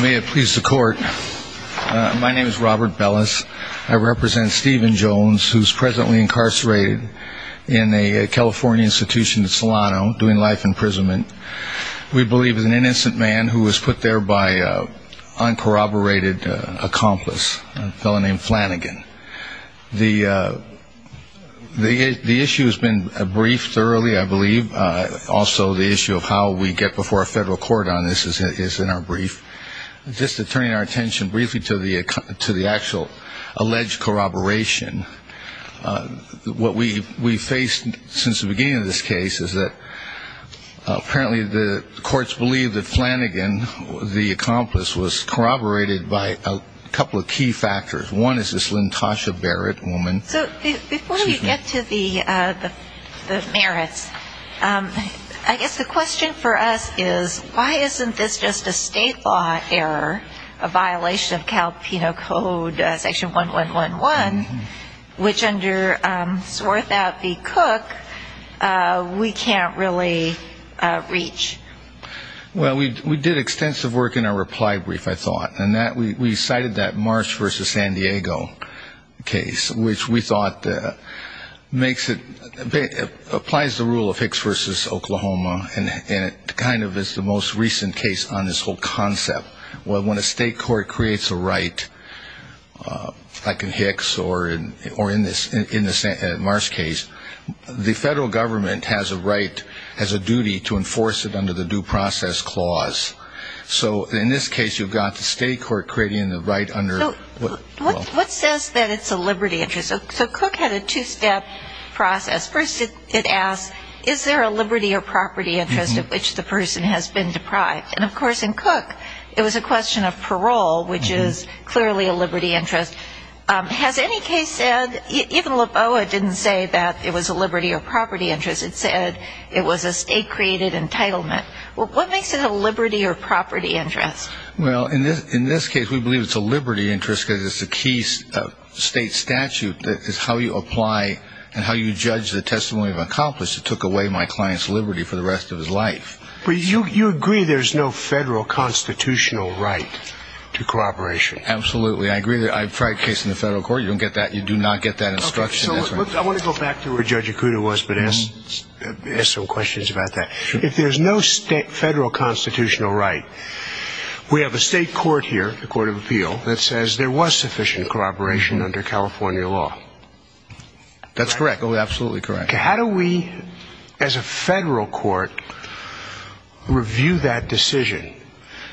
May it please the court. My name is Robert Bellis. I represent Stephen Jones who is presently incarcerated in a California institution in Solano doing life imprisonment. We believe he is an innocent man who was put there by an uncorroborated accomplice, a fellow named Flanagan. The issue has been briefed thoroughly, I believe. Also the issue of how we get before federal court on this is in our brief. Just to turn our attention briefly to the actual alleged corroboration, what we faced since the beginning of this case is that apparently the courts believe that Flanagan, the accomplice, was corroborated by a couple of key factors. One is this Lynn Tasha Barrett woman. So before we get to the merits, I guess the question for us is why isn't this just a state law error, a violation of Cal Penal Code section 1111, which under Swarthout v. Cook we can't really reach? Well, we did extensive work in our reply brief, I thought. And we cited that Marsh v. San and it kind of is the most recent case on this whole concept. When a state court creates a right, like in Hicks or in the Marsh case, the federal government has a right, has a duty to enforce it under the due process clause. So in this case you've got the state court creating the right under So what says that it's a liberty interest? So Cook had a two-step process. First it asks, is there a liberty or property interest of which the person has been deprived? And of course in Cook it was a question of parole, which is clearly a liberty interest. Has any case said, even LaBoa didn't say that it was a liberty or property interest. It said it was a state-created entitlement. What makes it a liberty or property interest? Well, in this case we believe it's a liberty interest because it's a key state statute that is how you apply and how you judge the testimony of an accomplice that took away my client's liberty for the rest of his life. But you agree there's no federal constitutional right to corroboration? Absolutely. I agree. I tried a case in the federal court. You don't get that. You do not get that instruction. Okay. So I want to go back to where Judge Ikuda was, but ask some questions about that. If there's no federal constitutional right, we have a state court here, the Court of Appeal, that says there was sufficient corroboration under California law. That's correct. Absolutely correct. Okay. How do we, as a federal court, review that decision?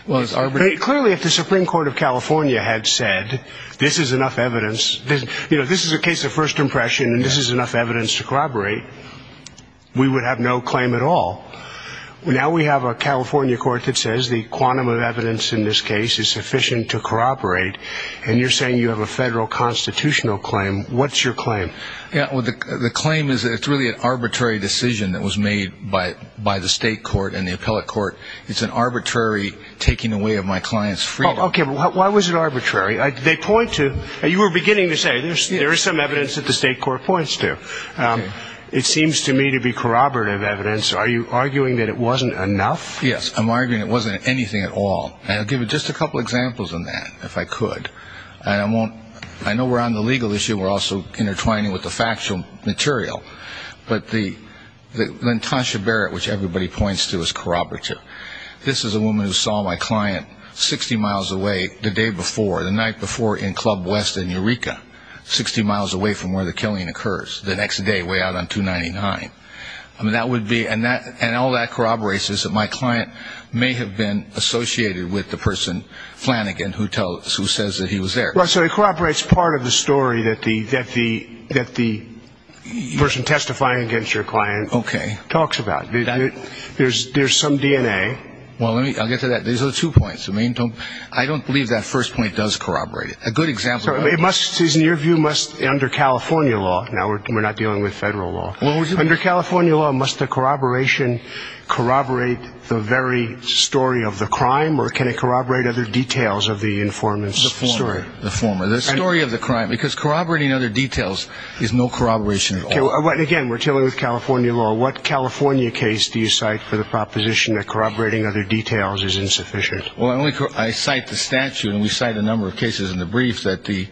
Well, it's arbitrary. Clearly if the Supreme Court of California had said this is enough evidence, you know, this is a case of first impression and this is enough evidence to corroborate, we would have no claim at all. Now we have a California court that says the quantum of evidence in this case is sufficient to corroborate, and you're saying you have a federal constitutional claim. What's your claim? The claim is that it's really an arbitrary decision that was made by the state court and the appellate court. It's an arbitrary taking away of my client's freedom. Okay. But why was it arbitrary? They point to, you were beginning to say, there is some evidence that the state court points to. It seems to me to be corroborative evidence. Are you arguing that it wasn't enough? Yes. I'm arguing it wasn't anything at all. And I'll give you just a couple of examples on that, if I could. And I won't, I know we're on the legal issue. We're also intertwining with the factual material. But the Natasha Barrett, which everybody points to, is corroborative. This is a woman who saw my client 60 miles away the day before, the night before in Club West in Eureka, 60 miles away from where the killing occurs, the next day way out on 299. I mean, that would be, and all that corroborates is that my client may have been associated with the person, Flanagan, who tells, who says that he was there. Well, so it corroborates part of the story that the, that the, that the person testifying against your client talks about. There's some DNA. Well, let me, I'll get to that. These are the two points. I mean, don't, I don't believe that first point does corroborate it. A good example of that is... It must, in your view, must, under California law, now we're not dealing with federal law, under California law, must the corroboration corroborate the very story of the crime, or can it corroborate other details of the informant's story? The former, the story of the crime, because corroborating other details is no corroboration at all. Again, we're dealing with California law. What California case do you cite for the proposition that corroborating other details is insufficient? Well, I only, I cite the statute, and we cite a number of cases in the brief that the,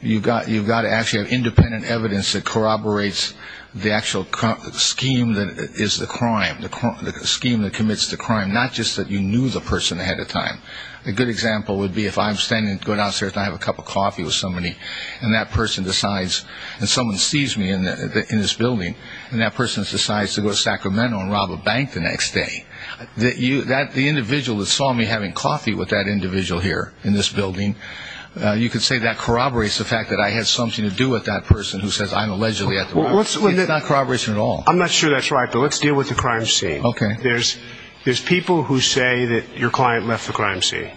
you've got to actually have independent evidence that corroborates the actual scheme that is the crime, the scheme that commits the crime, not just that you knew the person ahead of time. A good example would be if I'm standing, going downstairs, and I have a cup of coffee with somebody, and that person decides, and someone sees me in the, in this building, and that person decides to go to Sacramento and rob a bank the next day, that you, that the individual that saw me having coffee with that individual here in this building, you could say that there's something to do with that person who says I'm allegedly at the, it's not corroboration at all. I'm not sure that's right, but let's deal with the crime scene. Okay. There's, there's people who say that your client left the crime scene.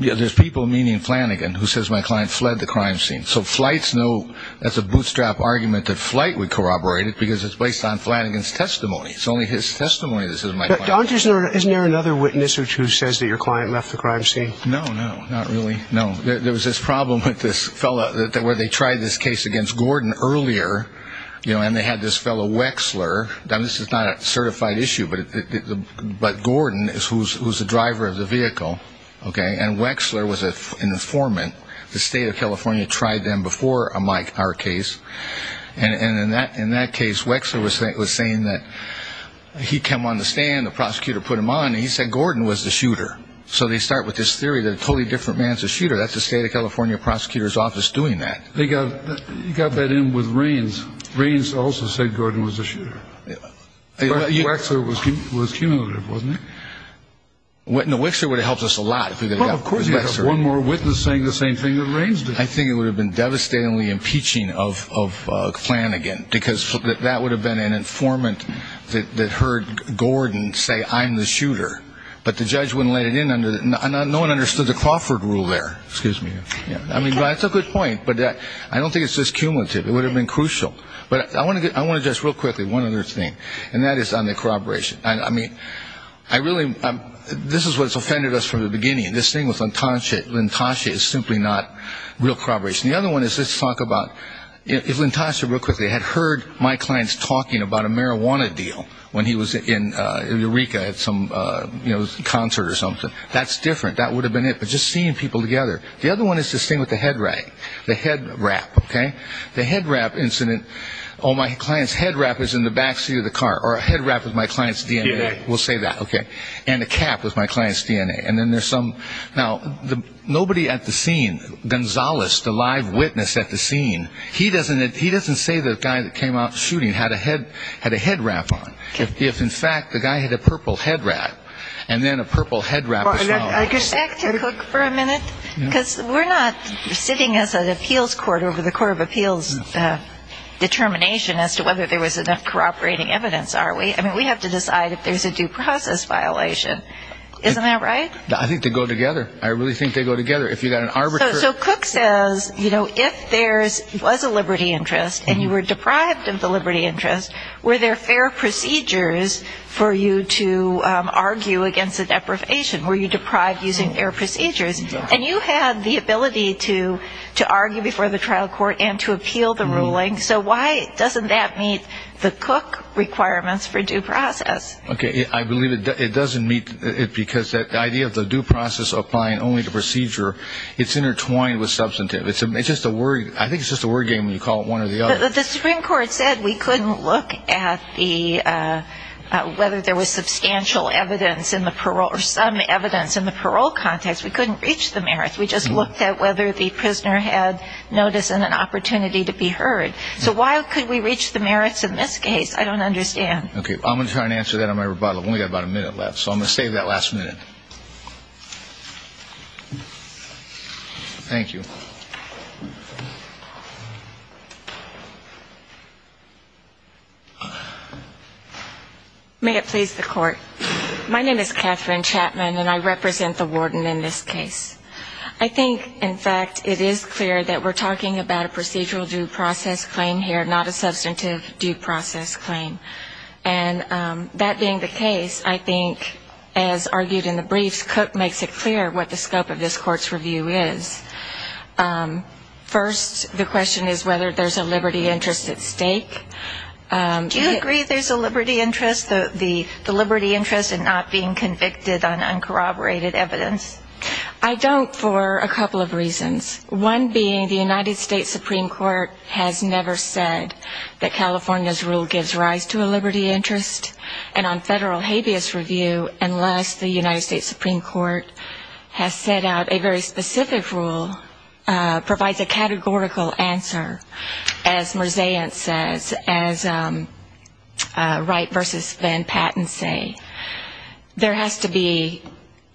Yeah, there's people, meaning Flanagan, who says my client fled the crime scene. So flight's no, that's a bootstrap argument that flight would corroborate it, because it's based on Flanagan's testimony. It's only his testimony that says my client left the crime scene. Isn't there another witness who says that your client left the crime scene? No, no, not really. No. There was this problem with this fellow, where they tried this case against Gordon earlier, you know, and they had this fellow Wexler, now this is not a certified issue, but Gordon is who's the driver of the vehicle, okay, and Wexler was an informant. The state of California tried them before our case, and in that case, Wexler was saying that he'd come on the stand, the prosecutor put him on, and he said Gordon was the shooter. So they start with this theory that a totally different man's a shooter. That's the state of California prosecutor's office doing that. They got, you got that in with Raines. Raines also said Gordon was the shooter. Wexler was cumulative, wasn't he? No, Wexler would have helped us a lot if we could have got Wexler. Well, of course, you'd have one more witness saying the same thing that Raines did. I think it would have been devastatingly impeaching of Flanagan, because that would have been an informant that heard Gordon say, I'm the shooter, but the judge wouldn't let it in under, no one understood the Crawford rule there, excuse me. I mean, that's a good point, but I don't think it's just cumulative. It would have been crucial. But I want to get, I want to just real quickly, one other thing, and that is on the corroboration. I mean, I really, this is what's offended us from the beginning. This thing with Lintasha is simply not real corroboration. The other one is, let's talk about, if Lintasha, real quickly, had heard my clients talking about a marijuana deal when he was in Eureka at some concert or something, that's different. That would have been it. But just seeing people together. The other one is this thing with the head wrap, okay? The head wrap incident, oh, my client's head wrap is in the back seat of the car, or a head wrap is my client's DNA. We'll say that, okay? And a cap is my client's DNA. And then there's some, now, nobody at the live witness at the scene, he doesn't say the guy that came out shooting had a head wrap on. If, in fact, the guy had a purple head wrap, and then a purple head wrap as well. I could go back to Cook for a minute. Because we're not sitting as an appeals court over the court of appeals determination as to whether there was enough corroborating evidence, are we? I mean, we have to decide if there's a due process violation. Isn't that right? I think they go together. I really think they go together. If you've got an arbiter. So Cook says, you know, if there was a liberty interest, and you were deprived of the liberty interest, were there fair procedures for you to argue against the deprivation? Were you deprived using fair procedures? And you had the ability to argue before the trial court and to appeal the ruling. So why doesn't that meet the Cook requirements for due process? Okay. I believe it doesn't meet it because the idea of the due process applying only to procedure, it's intertwined with substantive. I think it's just a word game when you call it one or the other. The Supreme Court said we couldn't look at whether there was substantial evidence in the parole or some evidence in the parole context. We couldn't reach the merits. We just looked at whether the prisoner had notice and an opportunity to be heard. So why could we reach the merits in this case? I don't understand. Okay. I'm going to try and answer that in my rebuttal. I've only got about a minute left. So I'm going to save that last minute. Thank you. May it please the court. My name is Catherine Chapman, and I represent the warden in this case. I think, in fact, it is clear that we're talking about a procedural due process claim here, not a substantive due process claim. And that being the case, I think, as argued in the briefs, Cook makes it clear what the scope of this court's review is. First, the question is whether there's a liberty interest at stake. Do you agree there's a liberty interest, the liberty interest in not being convicted on uncorroborated evidence? I don't for a couple of reasons. One being the United States Supreme Court has never said that California's rule gives rise to a liberty interest. And on federal habeas review, unless the United States Supreme Court has set out a very specific rule, provides a categorical answer, as Merzaint says, as Wright versus Van Patten say, there has to be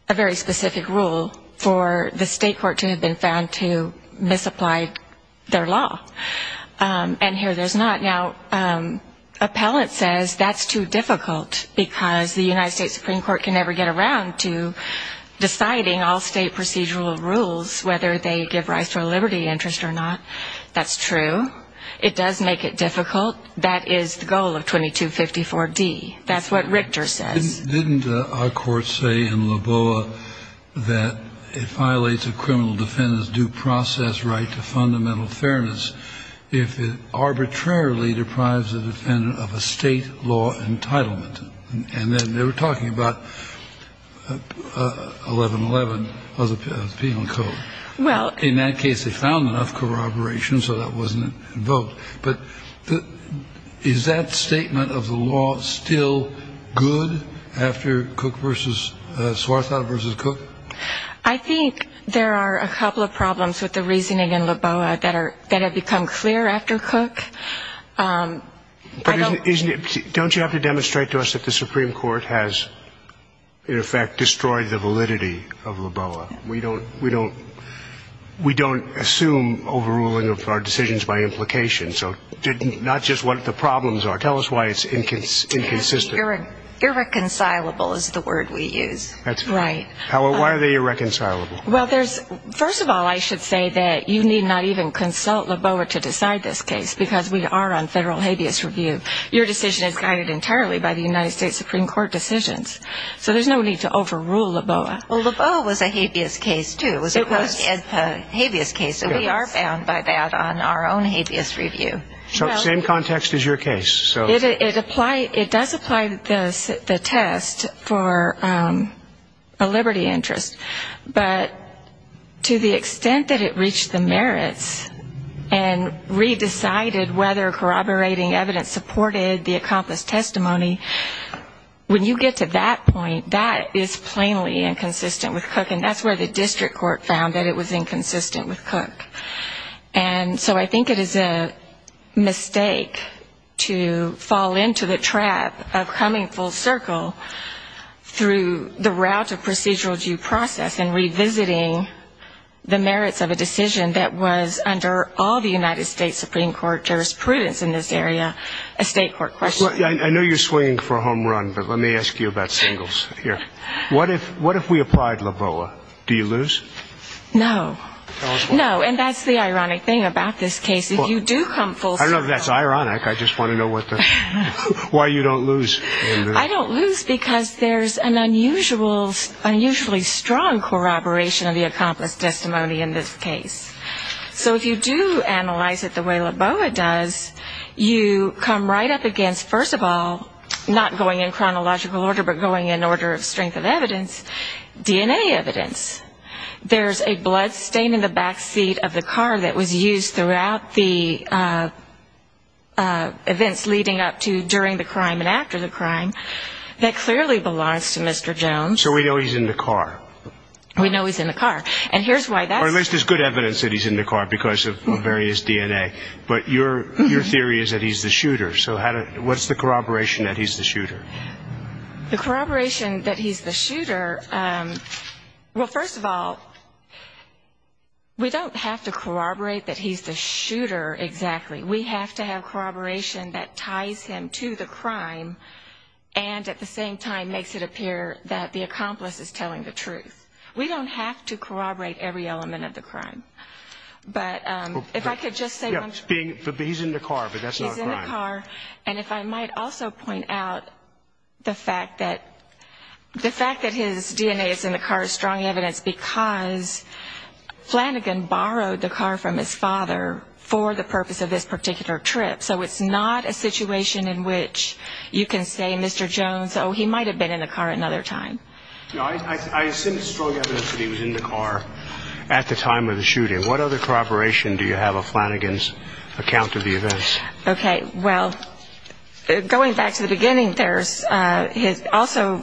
a very specific rule for the state court to have found to misapply their law. And here there's not. Now, Appellant says that's too difficult because the United States Supreme Court can never get around to deciding all state procedural rules, whether they give rise to a liberty interest or not. That's true. It does make it difficult. That is the goal of 2254D. That's what Richter says. Didn't our court say in Loboa that it violates a criminal defendant's due process right to fundamental fairness if it arbitrarily deprives a defendant of a state law entitlement? And then they were talking about 1111 of the Penal Code. Well, in that case, they found enough corroboration, so that wasn't invoked. But is that statement of the law still good after Cook versus Swarthout versus Cook? I think there are a couple of problems with the reasoning in Loboa that have become clear after Cook. But don't you have to demonstrate to us that the Supreme Court has, in effect, destroyed the validity of Loboa? We don't assume overruling of our decisions by implications. Not just what the problems are. Tell us why it's inconsistent. Irreconcilable is the word we use. That's right. Howard, why are they irreconcilable? Well, first of all, I should say that you need not even consult Loboa to decide this case, because we are on federal habeas review. Your decision is guided entirely by the United States Supreme Court decisions. So there's no need to overrule Loboa. Well, Loboa was a habeas case, too. It was a post habeas case, and we are bound by that on our own habeas review. So same context as your case. It does apply the test for a liberty interest. But to the extent that it reached the merits and re-decided whether corroborating evidence supported the accomplished testimony, when you get to that point, that is plainly inconsistent with Cook. And that's where the district court found that it was inconsistent with Cook. And so I think it is a mistake to fall into the trap of coming full circle through the route of procedural due process and revisiting the merits of a decision that was, under all the United States Supreme Court jurisprudence in this area, a state court question. I know you're swinging for a home run, but let me ask you about singles here. What if we applied Loboa? Do you lose? No. No. And that's the ironic thing about this case. If you do come full circle... I don't know if that's ironic. I just want to know why you don't lose. I don't lose because there's an unusually strong corroboration of the accomplished testimony in this case. So if you do analyze it the way Loboa does, you come right up against, first of all, not going in chronological order, but going in order of strength of evidence, DNA evidence. There's a bloodstain in the backseat of the car that was used throughout the events leading up to during the crime and after the crime that clearly belongs to Mr. Jones. So we know he's in the car. We know he's in the car. And here's why that's... Or at least there's good evidence that he's in the car because of various DNA. But your theory is that he's the shooter. So what's the corroboration that he's the shooter? The corroboration that he's the shooter... Well, first of all, we don't have to corroborate that he's the shooter exactly. We have to have corroboration that ties him to the crime and at the same time makes it appear that the accomplice is telling the truth. We don't have to corroborate every element of the crime. But if I could just say... He's in the car, but that's not a crime. He's in the car. And if I might also point out the fact that his DNA is in the car is strong evidence because Flanagan borrowed the car from his father for the purpose of this particular trip. So it's not a situation in which you can say, Mr. Jones, oh, he might have been in the car another time. I assume it's strong evidence that he was in the car at the time of the shooting. What other corroboration do you have of Flanagan's account of the events? Okay. Well, going back to the beginning, there's also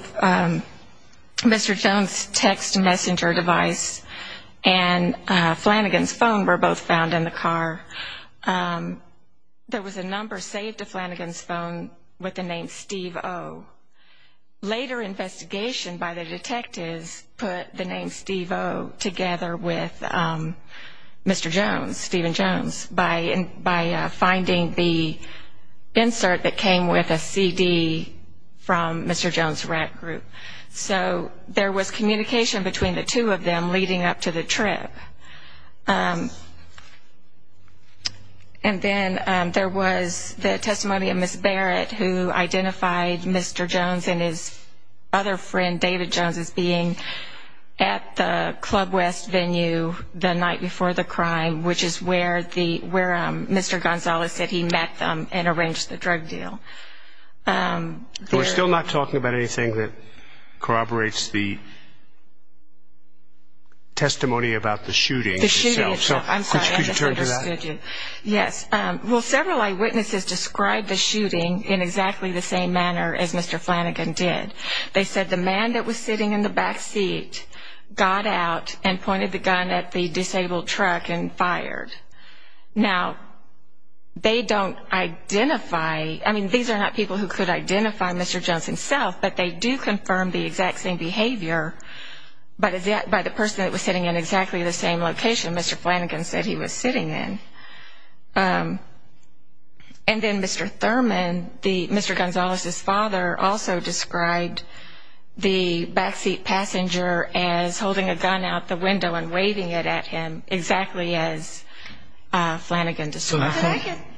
Mr. Jones' text messenger device and Flanagan's phone were both found in the car. There was a number saved to Flanagan's with the name Steve O. Later investigation by the detectives put the name Steve O together with Mr. Jones, Stephen Jones, by finding the insert that came with a CD from Mr. Jones' rat group. So there was communication between the two of them leading up to the trip. And then there was the testimony of Ms. Barrett who identified Mr. Jones and his other friend David Jones as being at the Club West venue the night before the crime, which is where Mr. Gonzalez said he met them and arranged the drug deal. We're still not talking about anything that corroborates the shooting. Yes. Well, several eyewitnesses described the shooting in exactly the same manner as Mr. Flanagan did. They said the man that was sitting in the back seat got out and pointed the gun at the disabled truck and fired. Now, they don't identify, I mean, these are not people who could identify Mr. Jones himself, but they do confirm the exact behavior by the person that was sitting in exactly the same location Mr. Flanagan said he was sitting in. And then Mr. Thurman, Mr. Gonzalez' father also described the back seat passenger as holding a gun out the window and waving it at him exactly as Flanagan described.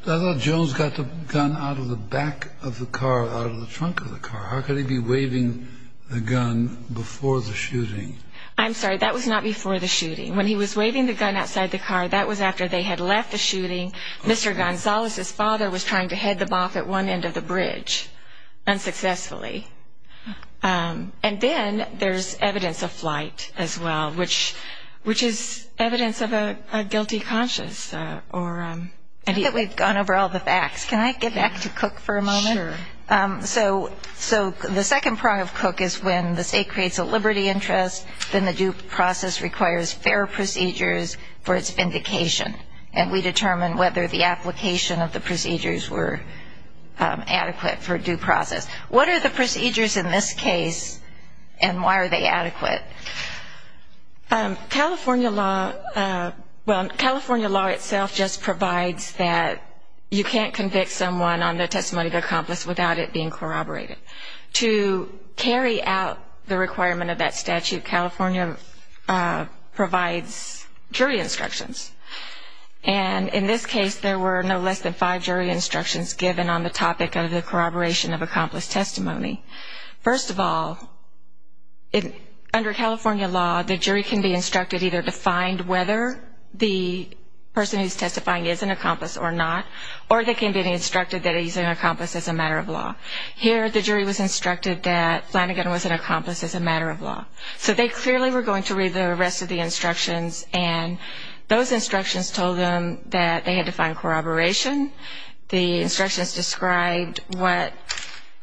So I thought Jones got the gun out of the back of the car, out of the trunk of the car. How could he be waving the gun before the shooting? I'm sorry, that was not before the shooting. When he was waving the gun outside the car, that was after they had left the shooting. Mr. Gonzalez' father was trying to head them off at one end of the bridge unsuccessfully. And then there's evidence of flight as well, which is evidence of a guilty conscious. I think we've gone over all the facts. Can I get back to Cook for a moment? Sure. So the second prong of Cook is when the state creates a liberty interest, then the due process requires fair procedures for its vindication. And we determine whether the application of the procedures were adequate for due process. What are the procedures in this case and why are they adequate? California law, well, California law itself just provides that you can't convict someone on the testimony of the accomplice without it being corroborated. To carry out the requirement of that statute, California provides jury instructions. And in this case, there were no less than five jury instructions given on the topic of the corroboration of accomplice testimony. First of all, under California law, the jury can be or they can be instructed that he's an accomplice as a matter of law. Here, the jury was instructed that Flanagan was an accomplice as a matter of law. So they clearly were going to read the rest of the instructions. And those instructions told them that they had to find corroboration. The instructions described what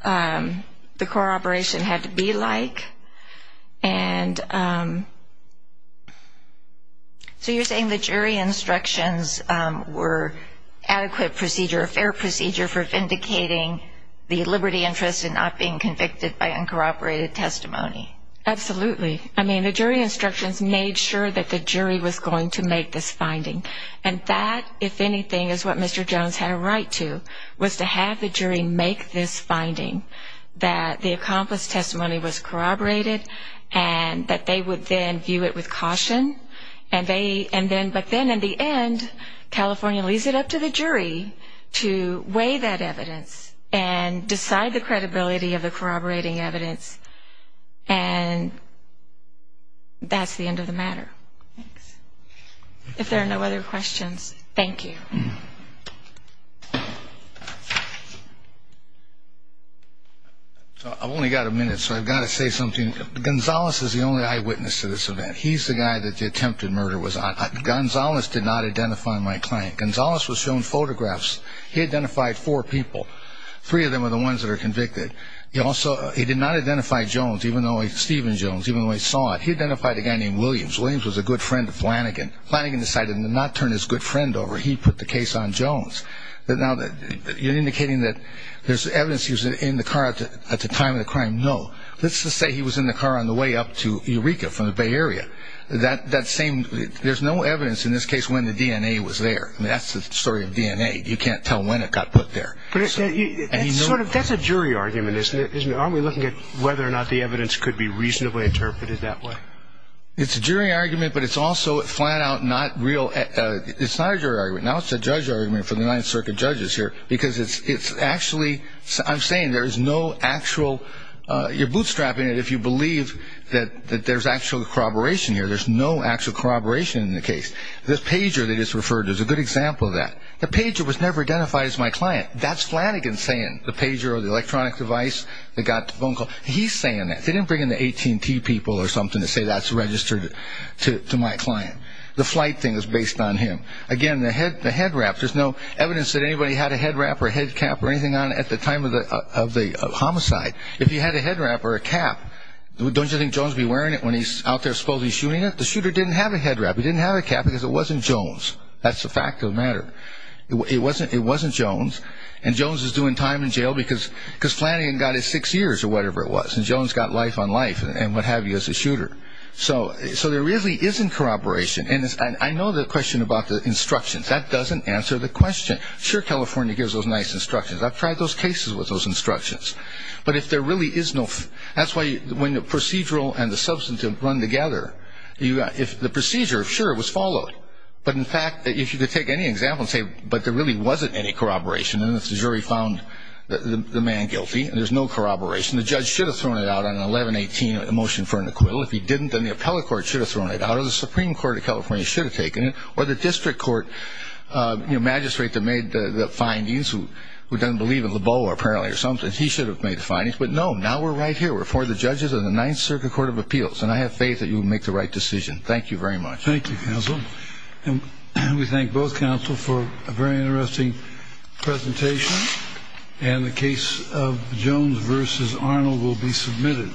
the corroboration had to be like. And so you're saying the jury instructions were adequate procedure, a fair procedure for vindicating the liberty interest in not being convicted by uncorroborated testimony. Absolutely. I mean, the jury instructions made sure that the jury was going to make this finding. And that, if anything, is what Mr. Jones had a right to, was to have the jury make this finding, that the accomplice testimony was corroborated, and that the jury was going to make this finding. But they would then view it with caution. But then in the end, California leaves it up to the jury to weigh that evidence and decide the credibility of the corroborating evidence. And that's the end of the matter. Thanks. If there are no other questions, thank you. I've only got a minute, so I've got to say something. Gonzalez is the only eyewitness to this event. He's the guy that the attempted murder was on. Gonzalez did not identify my client. Gonzalez was shown photographs. He identified four people. Three of them are the ones that are convicted. He also, he did not identify Jones, even though he, Stephen Jones, even though he saw it. He identified a guy named Williams. Williams was a good friend of Flanagan. Flanagan decided to not turn his good friend over. He put the case on Jones. Now, you're indicating that there's evidence he was in the car at the time of the crime. No. Let's just say he was in the car on the way up to Eureka from the Bay Area. That same, there's no evidence in this case when the DNA was there. That's the story of DNA. You can't tell when it got put there. That's a jury argument, isn't it? Aren't we looking at whether or not the evidence could be reasonably interpreted that way? It's a jury argument, but it's also flat out not real. It's not a jury argument. Now it's a judge argument for the Ninth Circuit judges here because it's actually, I'm saying there's no actual, you're bootstrapping it if you believe that there's actual corroboration here. There's no actual corroboration in the case. The pager that is referred to is a good example of that. The pager was never identified as my client. That's Flanagan saying. The pager or the electronic device that got the phone call. He's saying that. They didn't bring in the AT&T people or something to say that's registered to my client. The flight thing is based on him. Again, the head wrap. There's no evidence that anybody had a head wrap or a head cap or anything on at the time of the homicide. If you had a head wrap or a cap, don't you think Jones would be wearing it when he's out there supposedly shooting it? The shooter didn't have a head wrap. He didn't have a cap because it wasn't Jones. That's a fact of the matter. It wasn't Jones. And Jones is doing time in jail because Flanagan got his six years or whatever it was. And Jones got life on life and what have you as a shooter. So there really isn't corroboration. And I know the question about the instructions. That doesn't answer the question. Sure, California gives those nice instructions. I've tried those cases with those instructions. But if there really is no, that's why when the procedural and the substantive run together, if the procedure, sure, it was followed. But in fact, if you could take any example and say, but there really wasn't any corroboration, and if the jury found the man guilty and there's no corroboration, the judge should have thrown it out on 11-18, a motion for an acquittal. If he didn't, then the appellate court should have thrown it out or the Supreme Court of California should have taken it or the district court magistrate that made the findings who doesn't believe in the bow apparently or something. He should have made the findings. But no, now we're right here. We're for the judges and the Ninth Circuit Court of Appeals. And I have faith that you will make the right decision. Thank you very much. Thank you, counsel. And we thank both counsel for a very interesting presentation. And the case of Jones versus Arnold will be submitted.